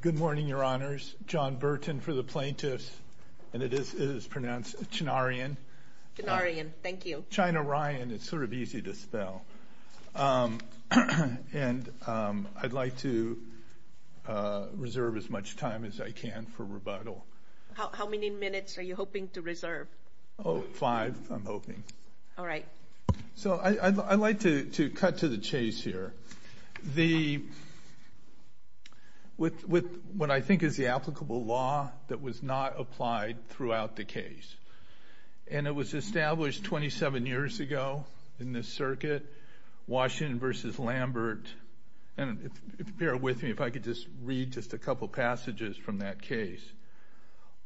Good morning, your honors. John Burton for the plaintiffs, and it is pronounced Chinaryan. Chinaryan, thank you. China-ryan, it's sort of easy to spell. And I'd like to reserve as much time as I can for rebuttal. How many minutes are you hoping? All right. So I'd like to cut to the chase here. The, with what I think is the applicable law that was not applied throughout the case, and it was established 27 years ago in this circuit, Washington v. Lambert, and bear with me if I could just read just a couple passages from that case.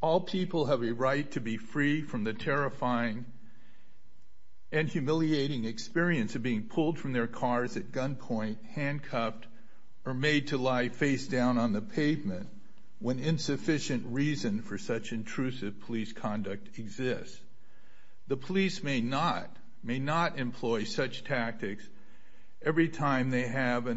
All people have a right to be free from the terrifying and humiliating experience of being pulled from their cars at gunpoint, handcuffed, or made to lie face down on the pavement when insufficient reason for such intrusive police conduct exists. The police may not, may not employ such tactics every time they have an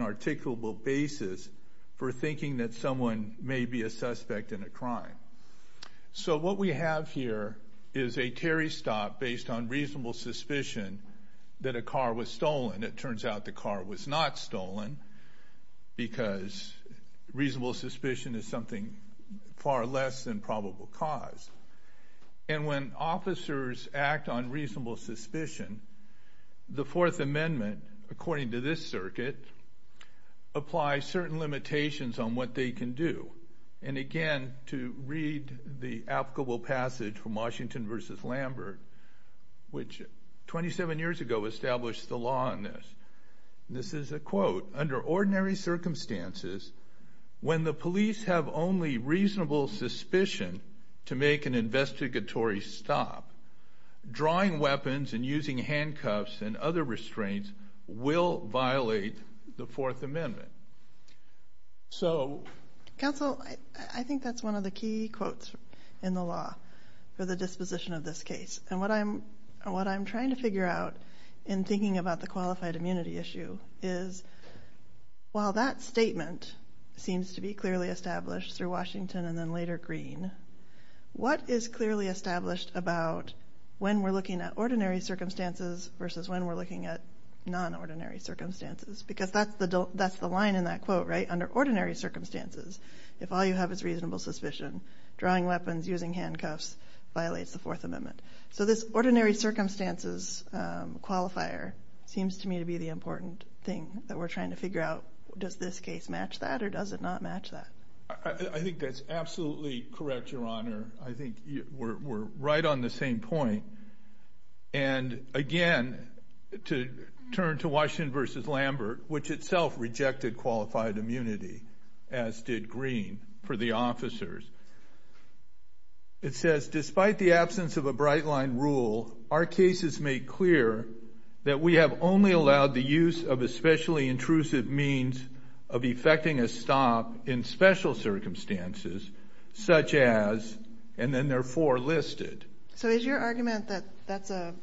So what we have here is a Terry stop based on reasonable suspicion that a car was stolen. It turns out the car was not stolen because reasonable suspicion is something far less than probable cause. And when officers act on reasonable suspicion, the Fourth Amendment, according to this circuit, applies certain limitations on what they can do. And again, to read the applicable passage from Washington v. Lambert, which 27 years ago established the law on this. This is a quote. Under ordinary circumstances, when the police have only reasonable suspicion to make an investigatory stop, drawing weapons and So, Counsel, I think that's one of the key quotes in the law for the disposition of this case. And what I'm, what I'm trying to figure out in thinking about the qualified immunity issue is, while that statement seems to be clearly established through Washington and then later Greene, what is clearly established about when we're looking at ordinary circumstances versus when we're looking at non-ordinary circumstances? Because that's the, that's the line in that quote, right? Under ordinary circumstances, if all you have is reasonable suspicion, drawing weapons, using handcuffs violates the Fourth Amendment. So this ordinary circumstances qualifier seems to me to be the important thing that we're trying to figure out. Does this case match that or does it not match that? I think that's absolutely correct, Your Honor. I think we're right on the same point. And again, to turn to Washington v. Lambert, which itself rejected qualified immunity, as did Greene, for the officers. It says, despite the absence of a bright-line rule, our cases make clear that we have only allowed the use of especially intrusive means of effecting a stop in special circumstances, such as, and then there are four listed. So is your argument that that's a,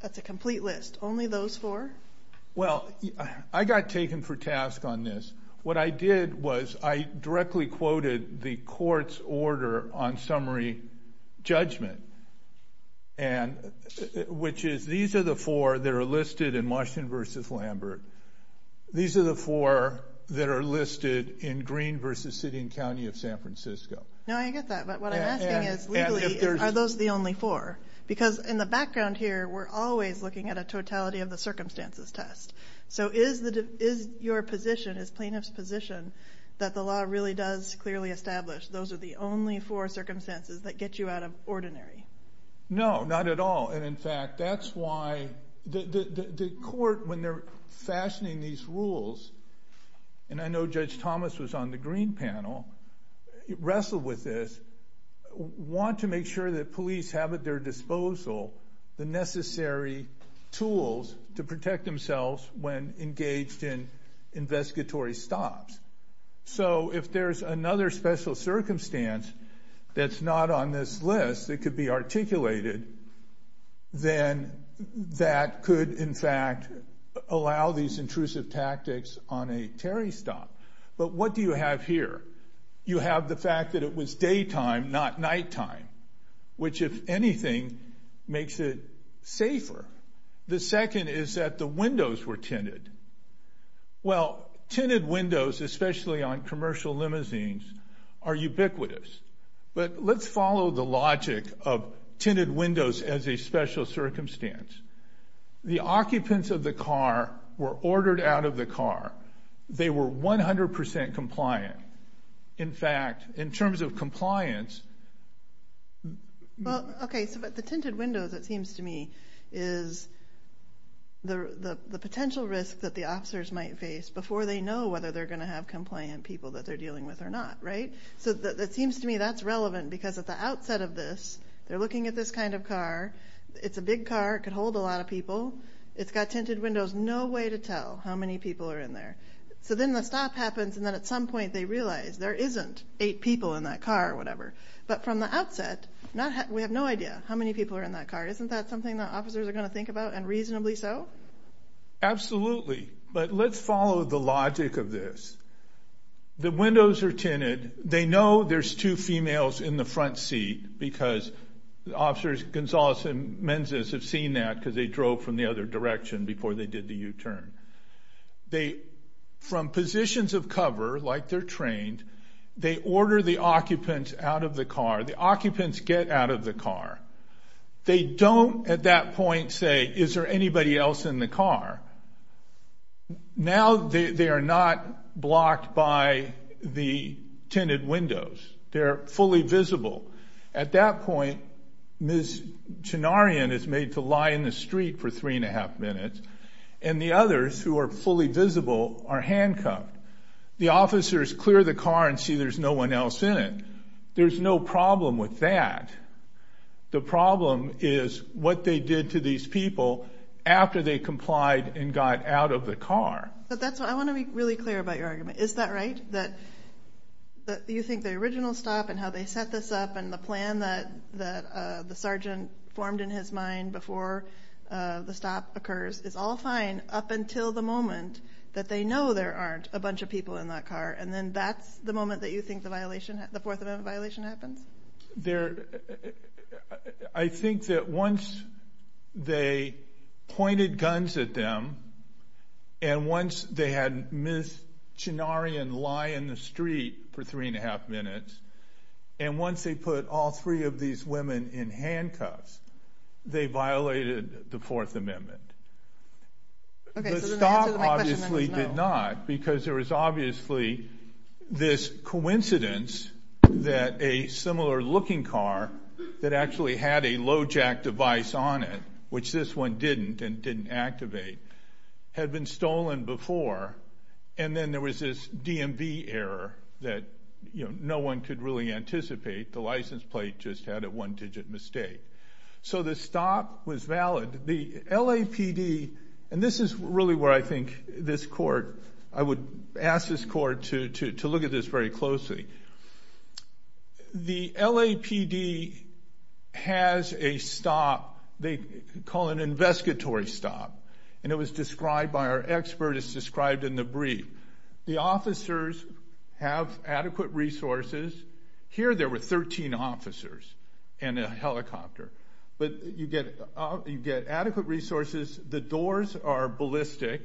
that's a complete list? Only those four? Well, I got taken for task on this. What I did was, I directly quoted the court's order on summary judgment. And, which is, these are the four that are listed in Washington v. Lambert. These are the four that are listed in Greene v. City and County of San Francisco. No, I get that, but what I'm asking is, legally, are those the only four? Because in the background here, we're always looking at a totality of the circumstances test. So is your position, as plaintiff's position, that the law really does clearly establish those are the only four circumstances that get you out of ordinary? No, not at all. And in fact, that's why the court, when they're fashioning these rules, and I know Judge Thomas was on the Greene panel, wrestled with this, want to make sure that police have at their disposal the necessary tools to protect themselves when engaged in investigatory stops. So if there's another special circumstance that's not on this list that could be articulated, then that could, in fact, allow these intrusive tactics on a Terry stop. But what do you have here? You have the fact that it was daytime, not safer. The second is that the windows were tinted. Well, tinted windows, especially on commercial limousines, are ubiquitous. But let's follow the logic of tinted windows as a special circumstance. The occupants of the car were ordered out of the car. They were 100% compliant. In fact, in terms of is the potential risk that the officers might face before they know whether they're going to have compliant people that they're dealing with or not, right? So that seems to me that's relevant, because at the outset of this, they're looking at this kind of car. It's a big car, could hold a lot of people. It's got tinted windows, no way to tell how many people are in there. So then the stop happens, and then at some point they realize there isn't eight people in that car or whatever. But from the outset, we have no idea how many people are in that car. Isn't that something that officers are going to think about and reasonably so? Absolutely. But let's follow the logic of this. The windows are tinted. They know there's two females in the front seat because officers, Gonzalez and Menzies, have seen that because they drove from the other direction before they did the U-turn. They, from positions of cover, like they're trained, they order the occupants out of the car. The occupants get out of the car. They don't, at that point, say, is there anybody else in the car? Now, they are not blocked by the tinted windows. They're fully visible. At that point, Ms. Chinarian is made to lie in the street for three-and-a-half minutes, and the others, who are fully visible, are handcuffed. The officers clear the car and see there's no one else in it. There's no problem with that. The problem is what they did to these people after they complied and got out of the car. But that's what... I wanna be really clear about your argument. Is that right? That you think the original stop and how they set this up and the plan that the sergeant formed in his mind before the stop occurs is all fine up until the moment that they know there aren't a bunch of people in that car, and then that's the moment that you know the violation happens? I think that once they pointed guns at them and once they had Ms. Chinarian lie in the street for three-and-a-half minutes, and once they put all three of these women in handcuffs, they violated the Fourth Amendment. Okay, so then that answers my question about... No. No, it did not, because there was obviously this coincidence that a similar looking car that actually had a low jack device on it, which this one didn't and didn't activate, had been stolen before, and then there was this DMV error that no one could really anticipate. The license plate just had a one digit mistake. So the stop was valid. The LAPD... And this is really where I think this court... I would ask this court to look at this very closely. The LAPD has a stop they call an investigatory stop, and it was described by our expert, it's described in the brief. The officers have adequate resources. Here there were 13 officers in a helicopter, but you get adequate resources. The doors are ballistic.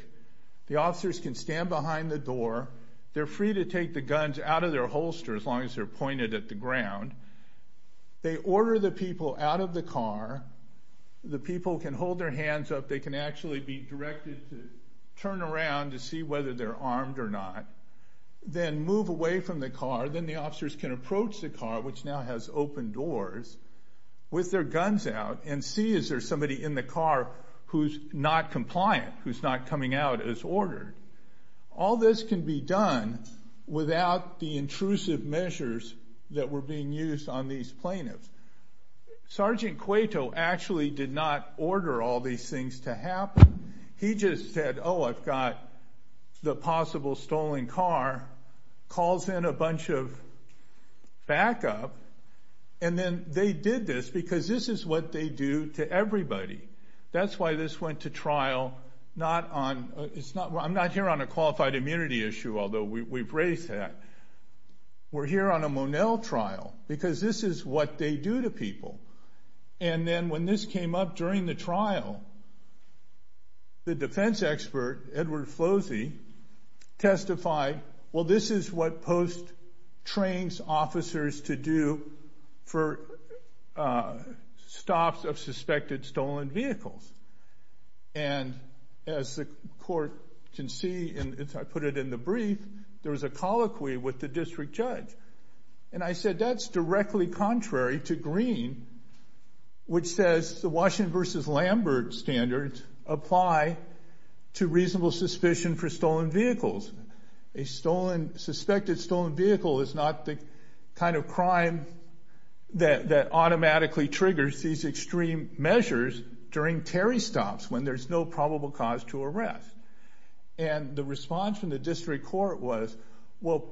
The officers can stand behind the door. They're free to take the guns out of their holster, as long as they're pointed at the ground. They order the people out of the car. The people can hold their hands up. They can actually be directed to turn around to see whether they're armed or not, then move away from the car. Then the officers can approach the car, which now has open doors, with their guns out, and see is there somebody in the car who's not compliant, who's not coming out as ordered. All this can be done without the intrusive measures that were being used on these plaintiffs. Sergeant Cueto actually did not order all these things to happen. He just said, oh, I've got the possible stolen car, calls in a bunch of backup, and then they did this because this is what they do to everybody. That's why this went to trial. I'm not here on a qualified immunity issue, although we've raised that. We're here on a Monell trial, because this is what they do to people. And then when this came up during the trial, the defense expert, Edward Flosie, testified, well, this is what post trains officers to do for stops of suspected stolen vehicles. And as the court can see, and I put it in the brief, there was a colloquy with the district judge. And I said, that's directly contrary to Green, which says the Washington versus Lambert standards apply to reasonable suspicion for stolen vehicles. A suspected stolen vehicle is not the kind of crime that automatically triggers these extreme measures during Terry stops when there's no probable cause to arrest. And the response from the district court was, well,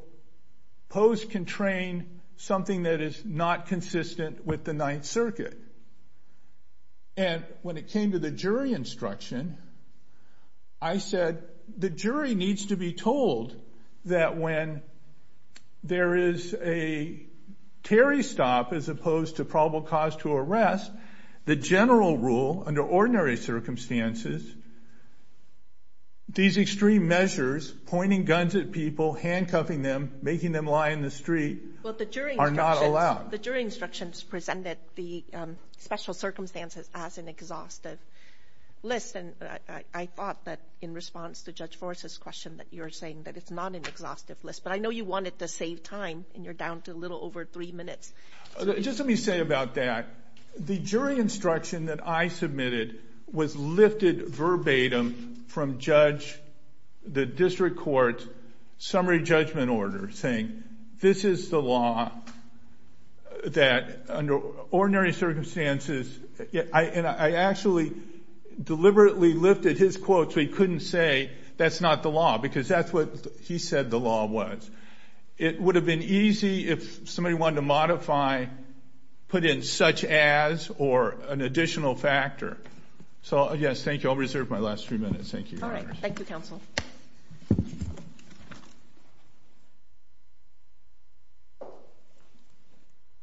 post can train something that is not consistent with the Ninth Circuit. And when it came to the jury instruction, I said, the jury needs to be told that when there is a Terry stop, as opposed to probable cause to arrest, the general rule, under ordinary circumstances, these extreme measures, pointing guns at people, handcuffing them, making them lie in the street, are not allowed. The jury instructions presented the special circumstances as an exhaustive list. And I thought that in response to Judge Forrest's question, that you're saying that it's not an exhaustive list. But I know you wanted to save time, and you're down to a little over three minutes. Just let me say about that. The jury instruction that I submitted was lifted verbatim from the district court's summary judgment order, saying, this is the law that, under ordinary circumstances... And I actually deliberately lifted his quote so he couldn't say that's not the law, because that's what he said the law was. It would have been easy if somebody wanted to modify, put in such as, or an additional factor. So, yes, thank you. I'll reserve my last few minutes. Thank you.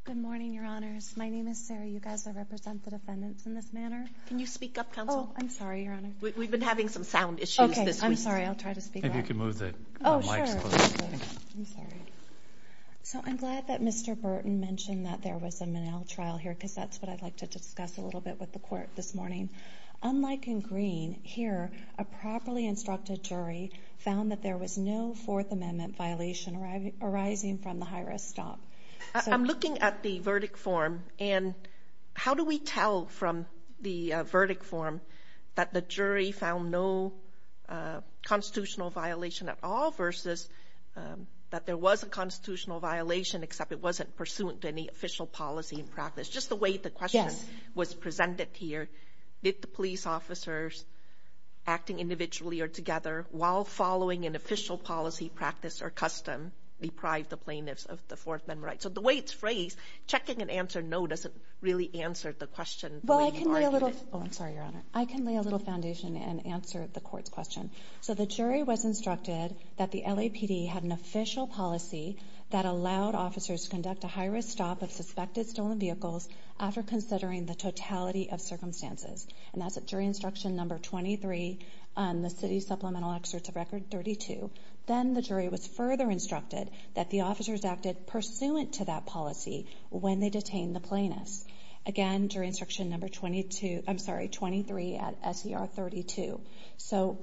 Good morning, Your Honors. My name is Sarah. You guys will represent the defendants in this manner. Can you speak up, counsel? Oh, I'm sorry, Your Honor. We've been having some sound issues this week. Okay. I'm sorry. I'll try to speak up. Maybe you can move the mic closer. Oh, sure. I'm sorry. So, I'm glad that Mr. Burton mentioned that there was a Minnell trial here, because that's what I'd like to discuss a little bit with the court this morning. Unlike in Green, here, a properly instructed jury found that there was no Fourth Amendment violation arising from the high risk stop. I'm looking at the verdict form, and how do we tell from the verdict form that the jury found no constitutional violation at all versus that there was a constitutional violation except it wasn't pursuant to any official policy and practice? Just the way the question was presented here. Did the police officers acting individually or together, while following an official policy practice or custom, deprive the plaintiffs of the Fourth Amendment rights? So, the way it's phrased, checking an answer no doesn't really answer the question. Well, I can lay a little... Oh, I'm sorry, Your Honor. I can lay a little foundation and answer the court's question. So, the jury was instructed that the LAPD had an official policy that allowed officers to conduct a high risk stop of suspected stolen vehicles after considering the totality of circumstances. And that's at jury instruction number 23 on the city supplemental excerpts of record 32. Then, the jury was further instructed that the officers acted pursuant to that policy when they detained the plaintiffs. Again, jury instruction number 22... I'm sorry, 23 at SER 32. So,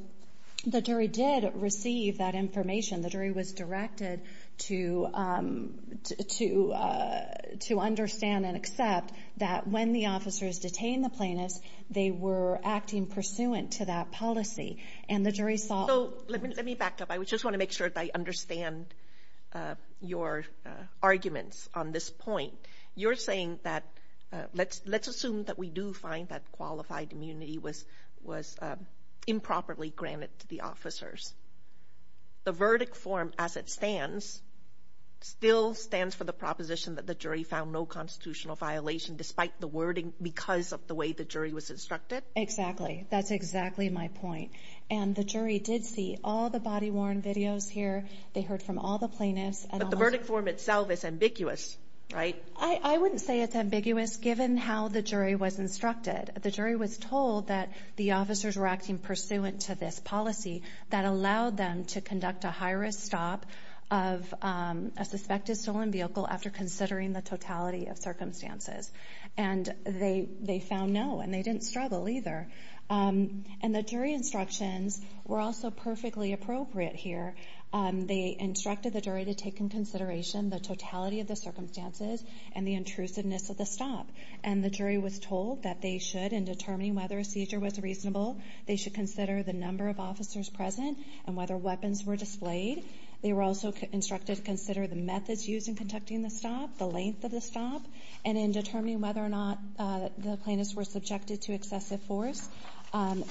the jury did receive that information. The jury was directed to understand and accept that when the officers detained the plaintiffs, they were acting pursuant to that policy. And the jury saw... So, let me back up. I just wanna make sure that I understand your arguments on this point. You're saying that... Let's assume that we do find that qualified immunity was improperly granted to the officers. The verdict form, as it stands, still stands for the proposition that the jury found no constitutional violation despite the wording because of the way the jury was instructed? Exactly. That's exactly my point. And the jury did see all the body worn videos here. They heard from all the plaintiffs. But the verdict form itself is ambiguous, right? I wouldn't say it's ambiguous given how the jury was instructed. The jury was told that the officers were acting pursuant to this policy that allowed them to conduct a high risk stop of a suspected stolen vehicle after considering the totality of circumstances. And they found no, and they didn't struggle either. And the jury instructions were also perfectly appropriate here. They instructed the jury to take in consideration the totality of the circumstances and the intrusiveness of the stop. And the jury was told that they should, in determining whether a seizure was reasonable, they should consider the number of officers present and whether weapons were displayed. They were also instructed to consider the methods used in conducting the stop, the length of the stop. And in determining whether or not the plaintiffs were subjected to excessive force,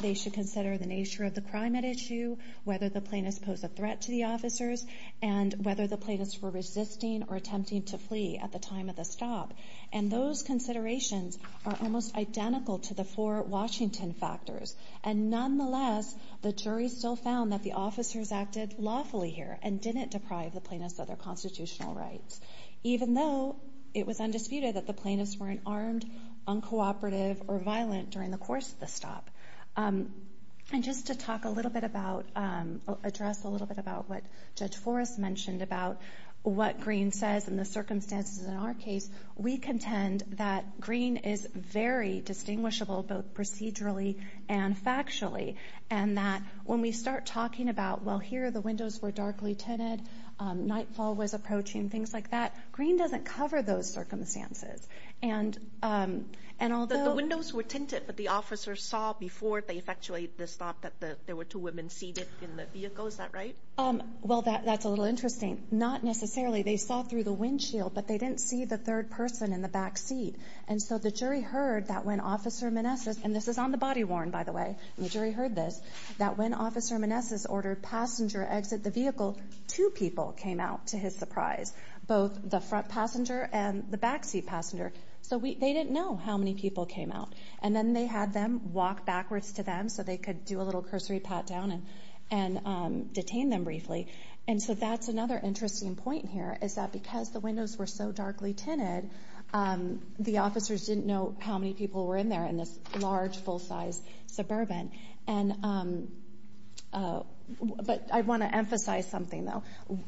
they should consider the nature of the crime at issue, whether the plaintiffs posed a threat to the officers, and whether the plaintiffs were resisting or attempting to flee at the time of the stop. And those considerations are almost identical to the four Washington factors. And nonetheless, the jury still found that the officers acted lawfully here and didn't deprive the plaintiffs of their constitutional rights, even though it was undisputed that the plaintiffs weren't armed, uncooperative, or violent during the course of the stop. And just to talk a little bit about, address a little bit about what Judge Smith says. In our case, we contend that green is very distinguishable, both procedurally and factually. And that when we start talking about, well, here the windows were darkly tinted, nightfall was approaching, things like that, green doesn't cover those circumstances. And although... But the windows were tinted, but the officers saw before they effectuated the stop that there were two women seated in the vehicle, is that right? Well, that's a little interesting. Not necessarily. They saw through the windshield, but they didn't see the third person in the back seat. And so the jury heard that when Officer Manessis, and this is on the body worn, by the way, and the jury heard this, that when Officer Manessis ordered passenger exit the vehicle, two people came out to his surprise, both the front passenger and the back seat passenger. So they didn't know how many people came out. And then they had them walk backwards to them so they could do a little cursory pat down and detain them briefly. And so that's another interesting point here, is that because the windows were so darkly tinted, the officers didn't know how many people were in there in this large, full size suburban. But I wanna emphasize something though.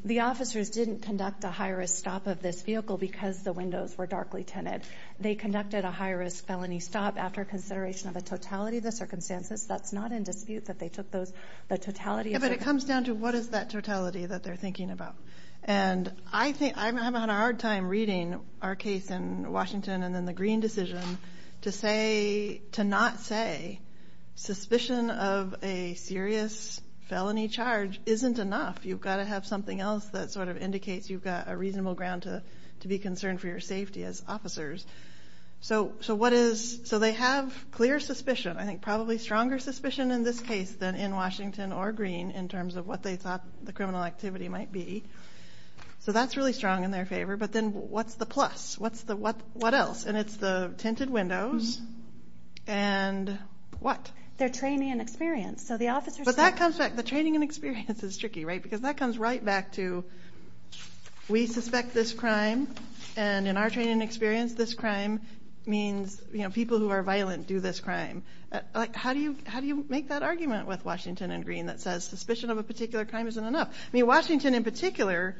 The officers didn't conduct a high risk stop of this vehicle because the windows were darkly tinted. They conducted a high risk felony stop after consideration of a totality of the circumstances. That's not in dispute that they took those, the totality... Yeah, but it comes down to what is that totality that they're thinking about. And I think... I'm having a hard time reading our case in Washington and then the Green decision to say, to not say, suspicion of a serious felony charge isn't enough. You've gotta have something else that sort of indicates you've got a reasonable ground to be concerned for your safety as officers. So what is... So they have clear suspicion, I think probably stronger suspicion in this case than in Washington or Green in terms of what they thought the criminal activity might be. So that's really strong in their favor. But then what's the plus? What's the... What else? And it's the tinted windows and what? Their training and experience. So the officers... But that comes back. The training and experience is tricky, right? Because that comes right back to, we suspect this crime and in our training and experience, this crime means people who are violent do this crime. How do you make that argument with Washington and Green that says, suspicion of a particular crime isn't enough? I mean, Washington in particular,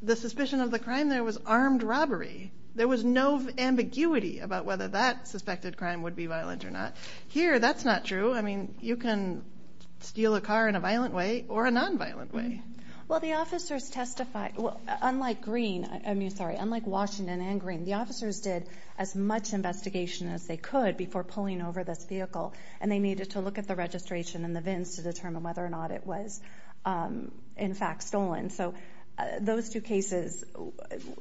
the suspicion of the crime there was armed robbery. There was no ambiguity about whether that suspected crime would be violent or not. Here, that's not true. I mean, you can steal a car in a violent way or a non violent way. Well, the officers testified... Well, unlike Green... I mean, sorry, unlike Washington and Green, the officers did as much investigation as they could before pulling over this vehicle and they needed to look at the registration and the VINs to determine whether or not it was, in fact, stolen. So those two cases,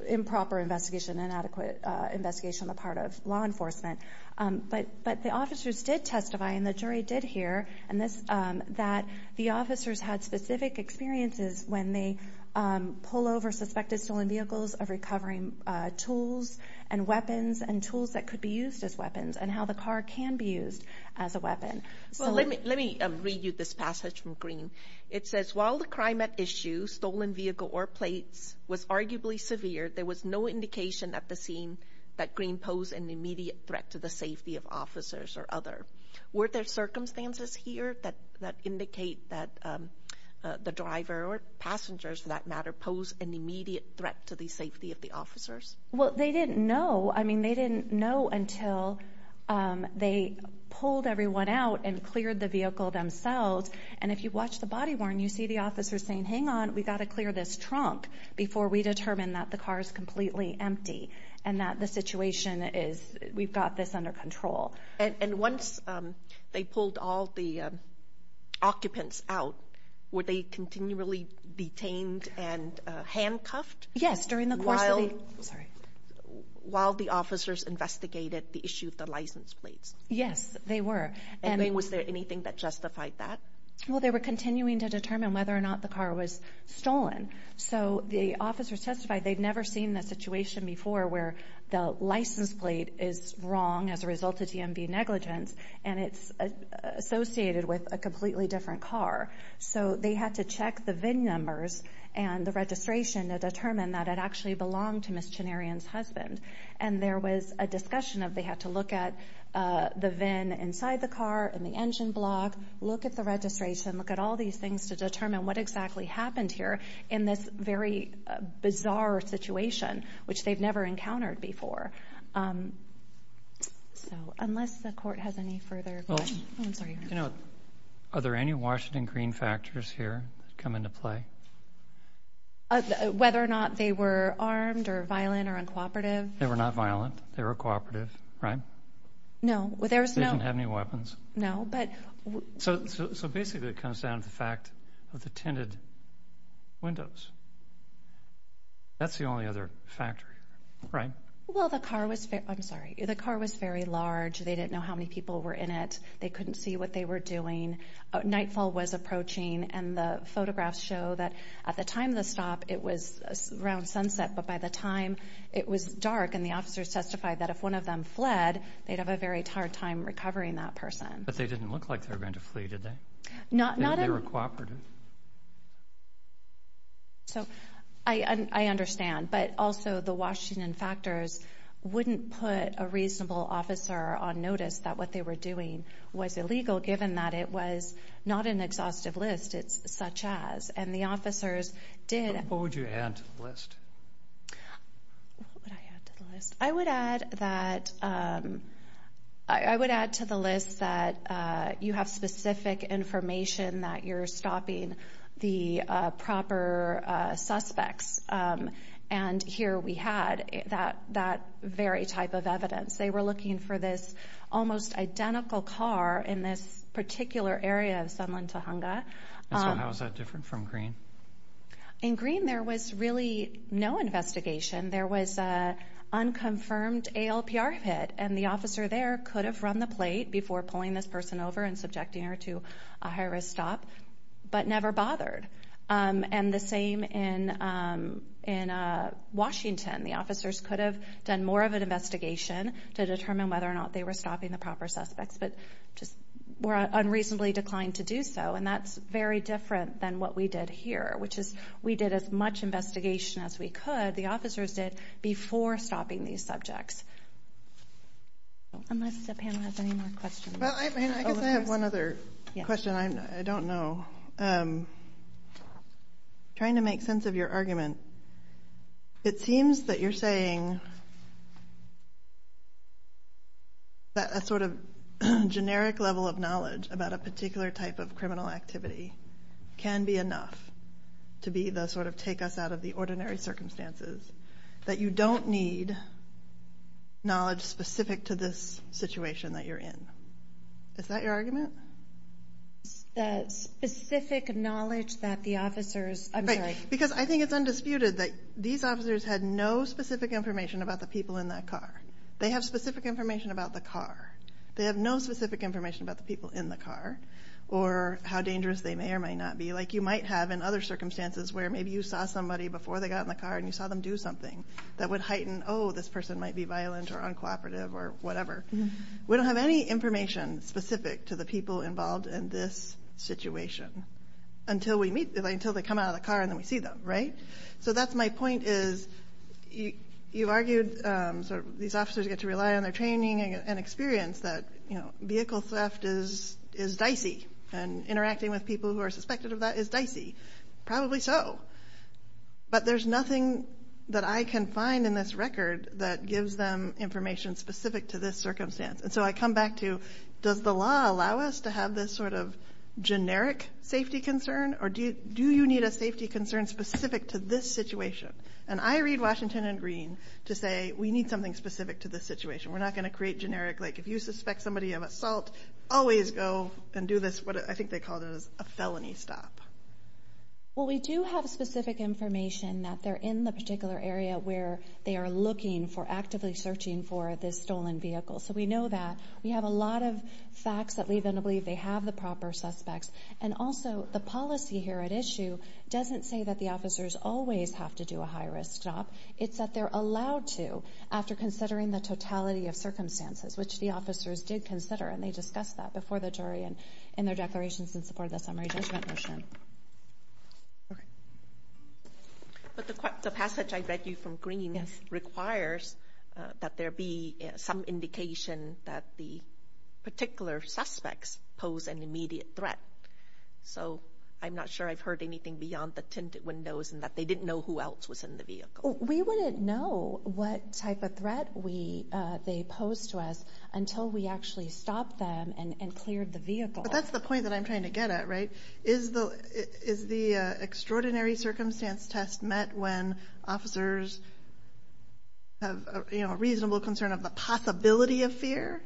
improper investigation, inadequate investigation on the part of law enforcement. But the officers did testify and the jury did hear that the officers had specific experiences when they pull over suspected stolen vehicles of recovering tools and weapons and tools that could be used as weapons and how the car can be used as a weapon. Well, let me read you this passage from Green. It says, while the crime at issue, stolen vehicle or plates, was arguably severe, there was no indication at the scene that Green posed an immediate threat to the safety of officers or other. Were there circumstances here that indicate that the driver or passengers, for that matter, posed an immediate threat to the safety of the officers? Well, they didn't know. I mean, they didn't know until they pulled everyone out and cleared the vehicle themselves. And if you watch the body worn, you see the officers saying, hang on, we gotta clear this trunk before we determine that the car is completely empty and that the situation is, we've got this under control. And once they pulled all the occupants out, were they continually detained and handcuffed? Yes, during the course of the... While the officers investigated the license plates. Yes, they were. And then was there anything that justified that? Well, they were continuing to determine whether or not the car was stolen. So the officers testified they'd never seen that situation before where the license plate is wrong as a result of DMV negligence and it's associated with a completely different car. So they had to check the VIN numbers and the registration to determine that it actually belonged to Ms. Chenarian's husband. And there was a discussion of they had to look at the VIN inside the car, in the engine block, look at the registration, look at all these things to determine what exactly happened here in this very bizarre situation, which they've never encountered before. So unless the court has any further... Oh, I'm sorry. Are there any Washington Green factors here that come into play? Whether or not they were armed or violent or uncooperative? They were not violent, they were cooperative, right? No, there's no... They didn't have any weapons. No, but... So basically it comes down to the fact of the tinted windows. That's the only other factor here, right? Well, the car was... I'm sorry. The car was very large. They didn't know how many people were in it. They couldn't see what they were doing. Nightfall was that at the time of the stop, it was around sunset, but by the time it was dark, and the officers testified that if one of them fled, they'd have a very hard time recovering that person. But they didn't look like they were going to flee, did they? Not... They were cooperative. So I understand, but also the Washington factors wouldn't put a reasonable officer on notice that what they were doing was illegal, given that it was not an exhaustive list, it's such as. And the officers did... What would you add to the list? What would I add to the list? I would add that... I would add to the list that you have specific information that you're stopping the proper suspects. And here we had that very type of evidence. They were looking for this almost identical car in this particular area of Sunland, Tujunga. And so how is that different from Green? In Green, there was really no investigation. There was unconfirmed ALPR hit, and the officer there could have run the plate before pulling this person over and subjecting her to a high risk stop, but never bothered. And the same in Washington. The officers could have done more of an investigation to determine whether or not they were stopping the proper suspects, but just were unreasonably declined to do so. And that's very different than what we did here, which is we did as much investigation as we could, the officers did, before stopping these subjects. Unless the panel has any more questions. Well, I guess I have one other question. I don't know. Trying to make sense of your argument. It seems that you're saying that a sort of generic level of knowledge about a particular type of criminal activity can be enough to be the sort of take us out of the ordinary circumstances, that you don't need knowledge specific to this situation that you're in. Is that your argument? That specific knowledge that the officers... I'm sorry. Because I think it's specific information about the people in that car. They have specific information about the car. They have no specific information about the people in the car, or how dangerous they may or may not be. Like you might have in other circumstances where maybe you saw somebody before they got in the car and you saw them do something that would heighten, oh, this person might be violent or uncooperative or whatever. We don't have any information specific to the people involved in this situation until they come out of the car and then we see them, right? So that's my point is, you argued these officers get to rely on their training and experience that vehicle theft is dicey, and interacting with people who are suspected of that is dicey. Probably so. But there's nothing that I can find in this record that gives them information specific to this circumstance. And so I come back to, does the law allow us to have this sort of generic safety concern? Or do you need a specific to this situation? And I read Washington and Green to say, we need something specific to this situation. We're not gonna create generic, like, if you suspect somebody of assault, always go and do this, what I think they called it, a felony stop. Well, we do have specific information that they're in the particular area where they are looking for actively searching for this stolen vehicle. So we know that. We have a lot of facts that lead them to doesn't say that the officers always have to do a high risk stop. It's that they're allowed to, after considering the totality of circumstances, which the officers did consider, and they discussed that before the jury and in their declarations in support of the summary judgment motion. But the passage I read you from Green requires that there be some indication that the particular suspects pose an immediate threat. So I'm not sure I've heard anything beyond the tinted windows and that they didn't know who else was in the vehicle. We wouldn't know what type of threat they posed to us until we actually stopped them and cleared the vehicle. But that's the point that I'm trying to get at, right? Is the extraordinary circumstance test met when officers have a reasonable concern of the possibility of fear?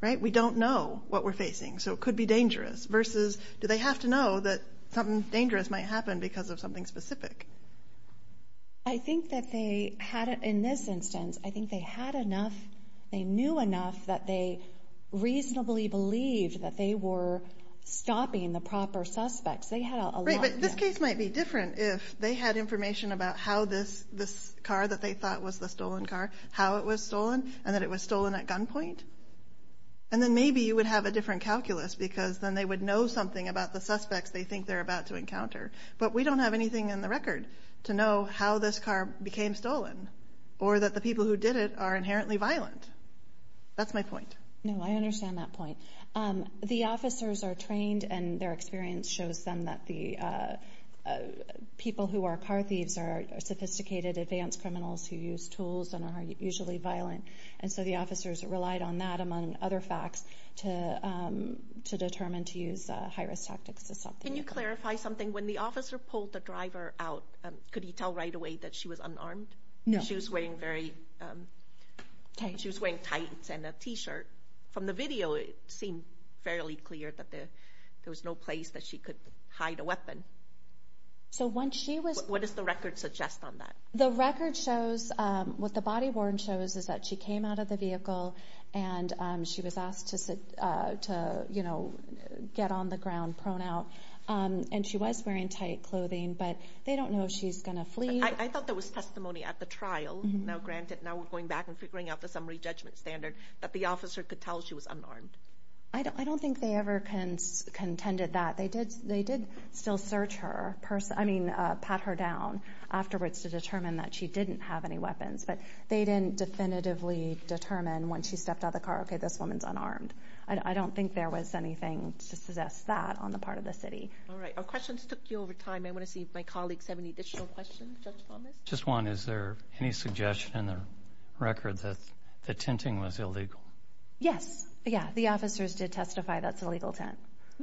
Right? We don't know what we're facing, so it could be dangerous. Versus, do they have to know that something dangerous might happen because of something specific? I think that they had, in this instance, I think they had enough, they knew enough that they reasonably believed that they were stopping the proper suspects. They had a lot... Right, but this case might be different if they had information about how this car that they thought was the stolen car, how it was stolen, and that it was stolen at gunpoint. And then maybe you would have a different calculus because then they would know something about the suspects they think they're about to encounter. But we don't have anything in the record to know how this car became stolen or that the people who did it are inherently violent. That's my point. No, I understand that point. The officers are trained and their experience shows them that the people who are car thieves are sophisticated, advanced criminals who use high-risk tactics. And the officers relied on that, among other facts, to determine to use high-risk tactics to stop the vehicle. Can you clarify something? When the officer pulled the driver out, could he tell right away that she was unarmed? No. She was wearing very... She was wearing tights and a t-shirt. From the video, it seemed fairly clear that there was no place that she could hide a weapon. So once she was... What does the record suggest on that? The record shows... What the body worn shows is that she came out of the vehicle and she was asked to get on the ground, prone out. And she was wearing tight clothing, but they don't know if she's gonna flee. I thought there was testimony at the trial. Now, granted, now we're going back and figuring out the summary judgment standard that the officer could tell she was unarmed. I don't think they ever contended that. They did still search her, pat her down afterwards to determine that she didn't have any weapons, but they didn't definitively determine when she stepped out of the car, okay, this woman's unarmed. I don't think there was anything to suggest that on the part of the city. Alright. Our questions took you over time. I wanna see if my colleagues have any additional questions. Judge Thomas? Just one. Is there any suggestion in the record that the tinting was illegal? Yes. Yeah. The officers did testify that's a legal tint.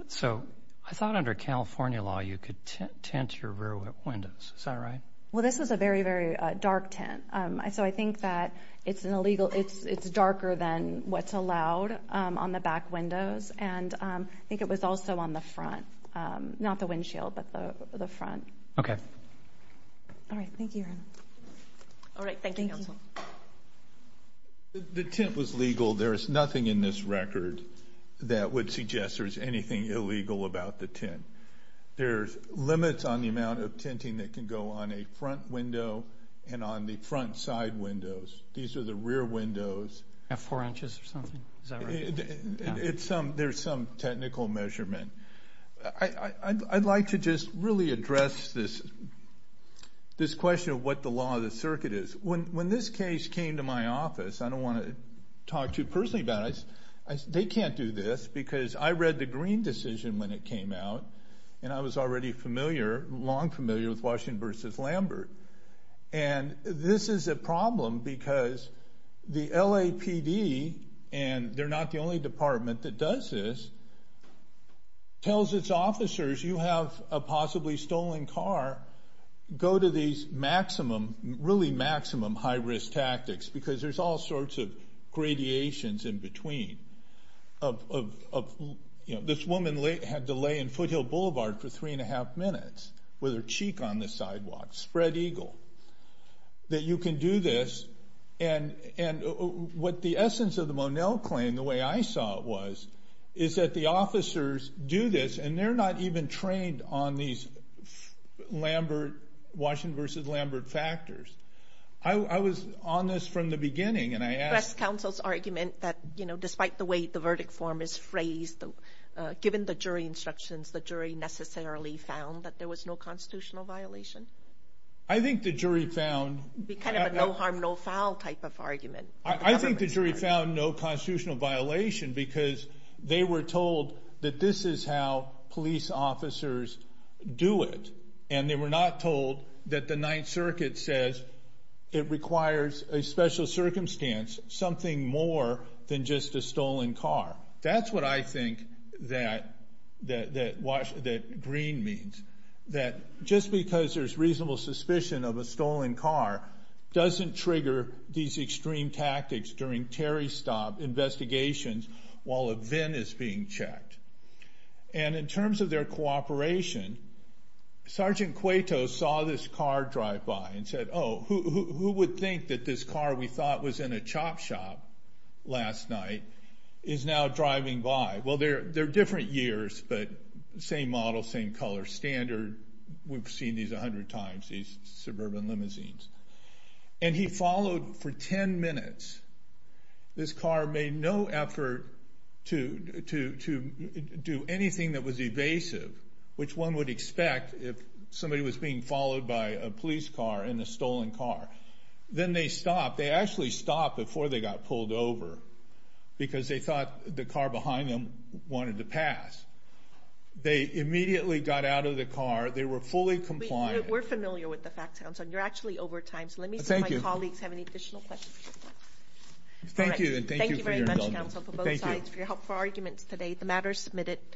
So I thought under California law, you could tint your rear windows. Is that right? Well, this is a very, very dark tint. So I think that it's an illegal... It's darker than what's allowed on the back windows. And I think it was also on the front. Not the windshield, but the front. Okay. Alright. Thank you. Alright. Thank you, counsel. The tint was legal. There is nothing in this record that would suggest there's anything illegal about the tint. There's limits on the amount of tinting that can go on a front window and on the front side windows. These are the rear windows. At four inches or something? Is that right? There's some technical measurement. I'd like to just really address this question of what the law of the circuit is. When this case came to my office, I don't wanna talk too personally about it. They can't do this because I read the Green decision when it came out, and I was already familiar, long familiar with Washington versus Lambert. And this is a problem because the LAPD, and they're not the only department that does this, tells its officers, you have a possibly stolen car, go to these really maximum high risk tactics because there's all sorts of gradations in between. This woman had to lay in Foothill Boulevard for three and a half minutes with her cheek on the sidewalk, spread eagle, that you can do this. And what the essence of the Monell claim, the way I saw it was, is that the officers do this and they're not even trained on these Washington versus Lambert factors. I was on this from the beginning, and I asked... Press Council's argument that despite the way the verdict form is phrased, given the jury instructions, the jury necessarily found that there was no constitutional violation? I think the jury found... It'd be kind of a no harm, no foul type of argument. I think the jury found no constitutional violation because they were told that this is how police officers do it, and they were not told that the Ninth Circuit says it requires a special circumstance, something more than just a stolen car. That's what I think that green means, that just because there's reasonable suspicion of a stolen car doesn't trigger these extreme tactics during Terry stop investigations while a VIN is being checked. And in terms of their cooperation, Sergeant Cueto saw this car drive by and said, who would think that this car we thought was in a chop shop last night is now driving by? Well, they're different years, but same model, same color standard. We've seen these 100 times, these suburban limousines. And he followed for 10 minutes. This car made no effort to do anything that was evasive, which one would expect if somebody was being followed by a police car in a stolen car. Then they stopped. They actually stopped before they got pulled over because they thought the car behind them wanted to pass. They immediately got out of the car. They were fully compliant. We're familiar with the facts. You're actually over time, so let me see if my colleagues have any additional questions. Thank you. Thank you very much, counsel, for both sides for your helpful arguments today. The matter is submitted.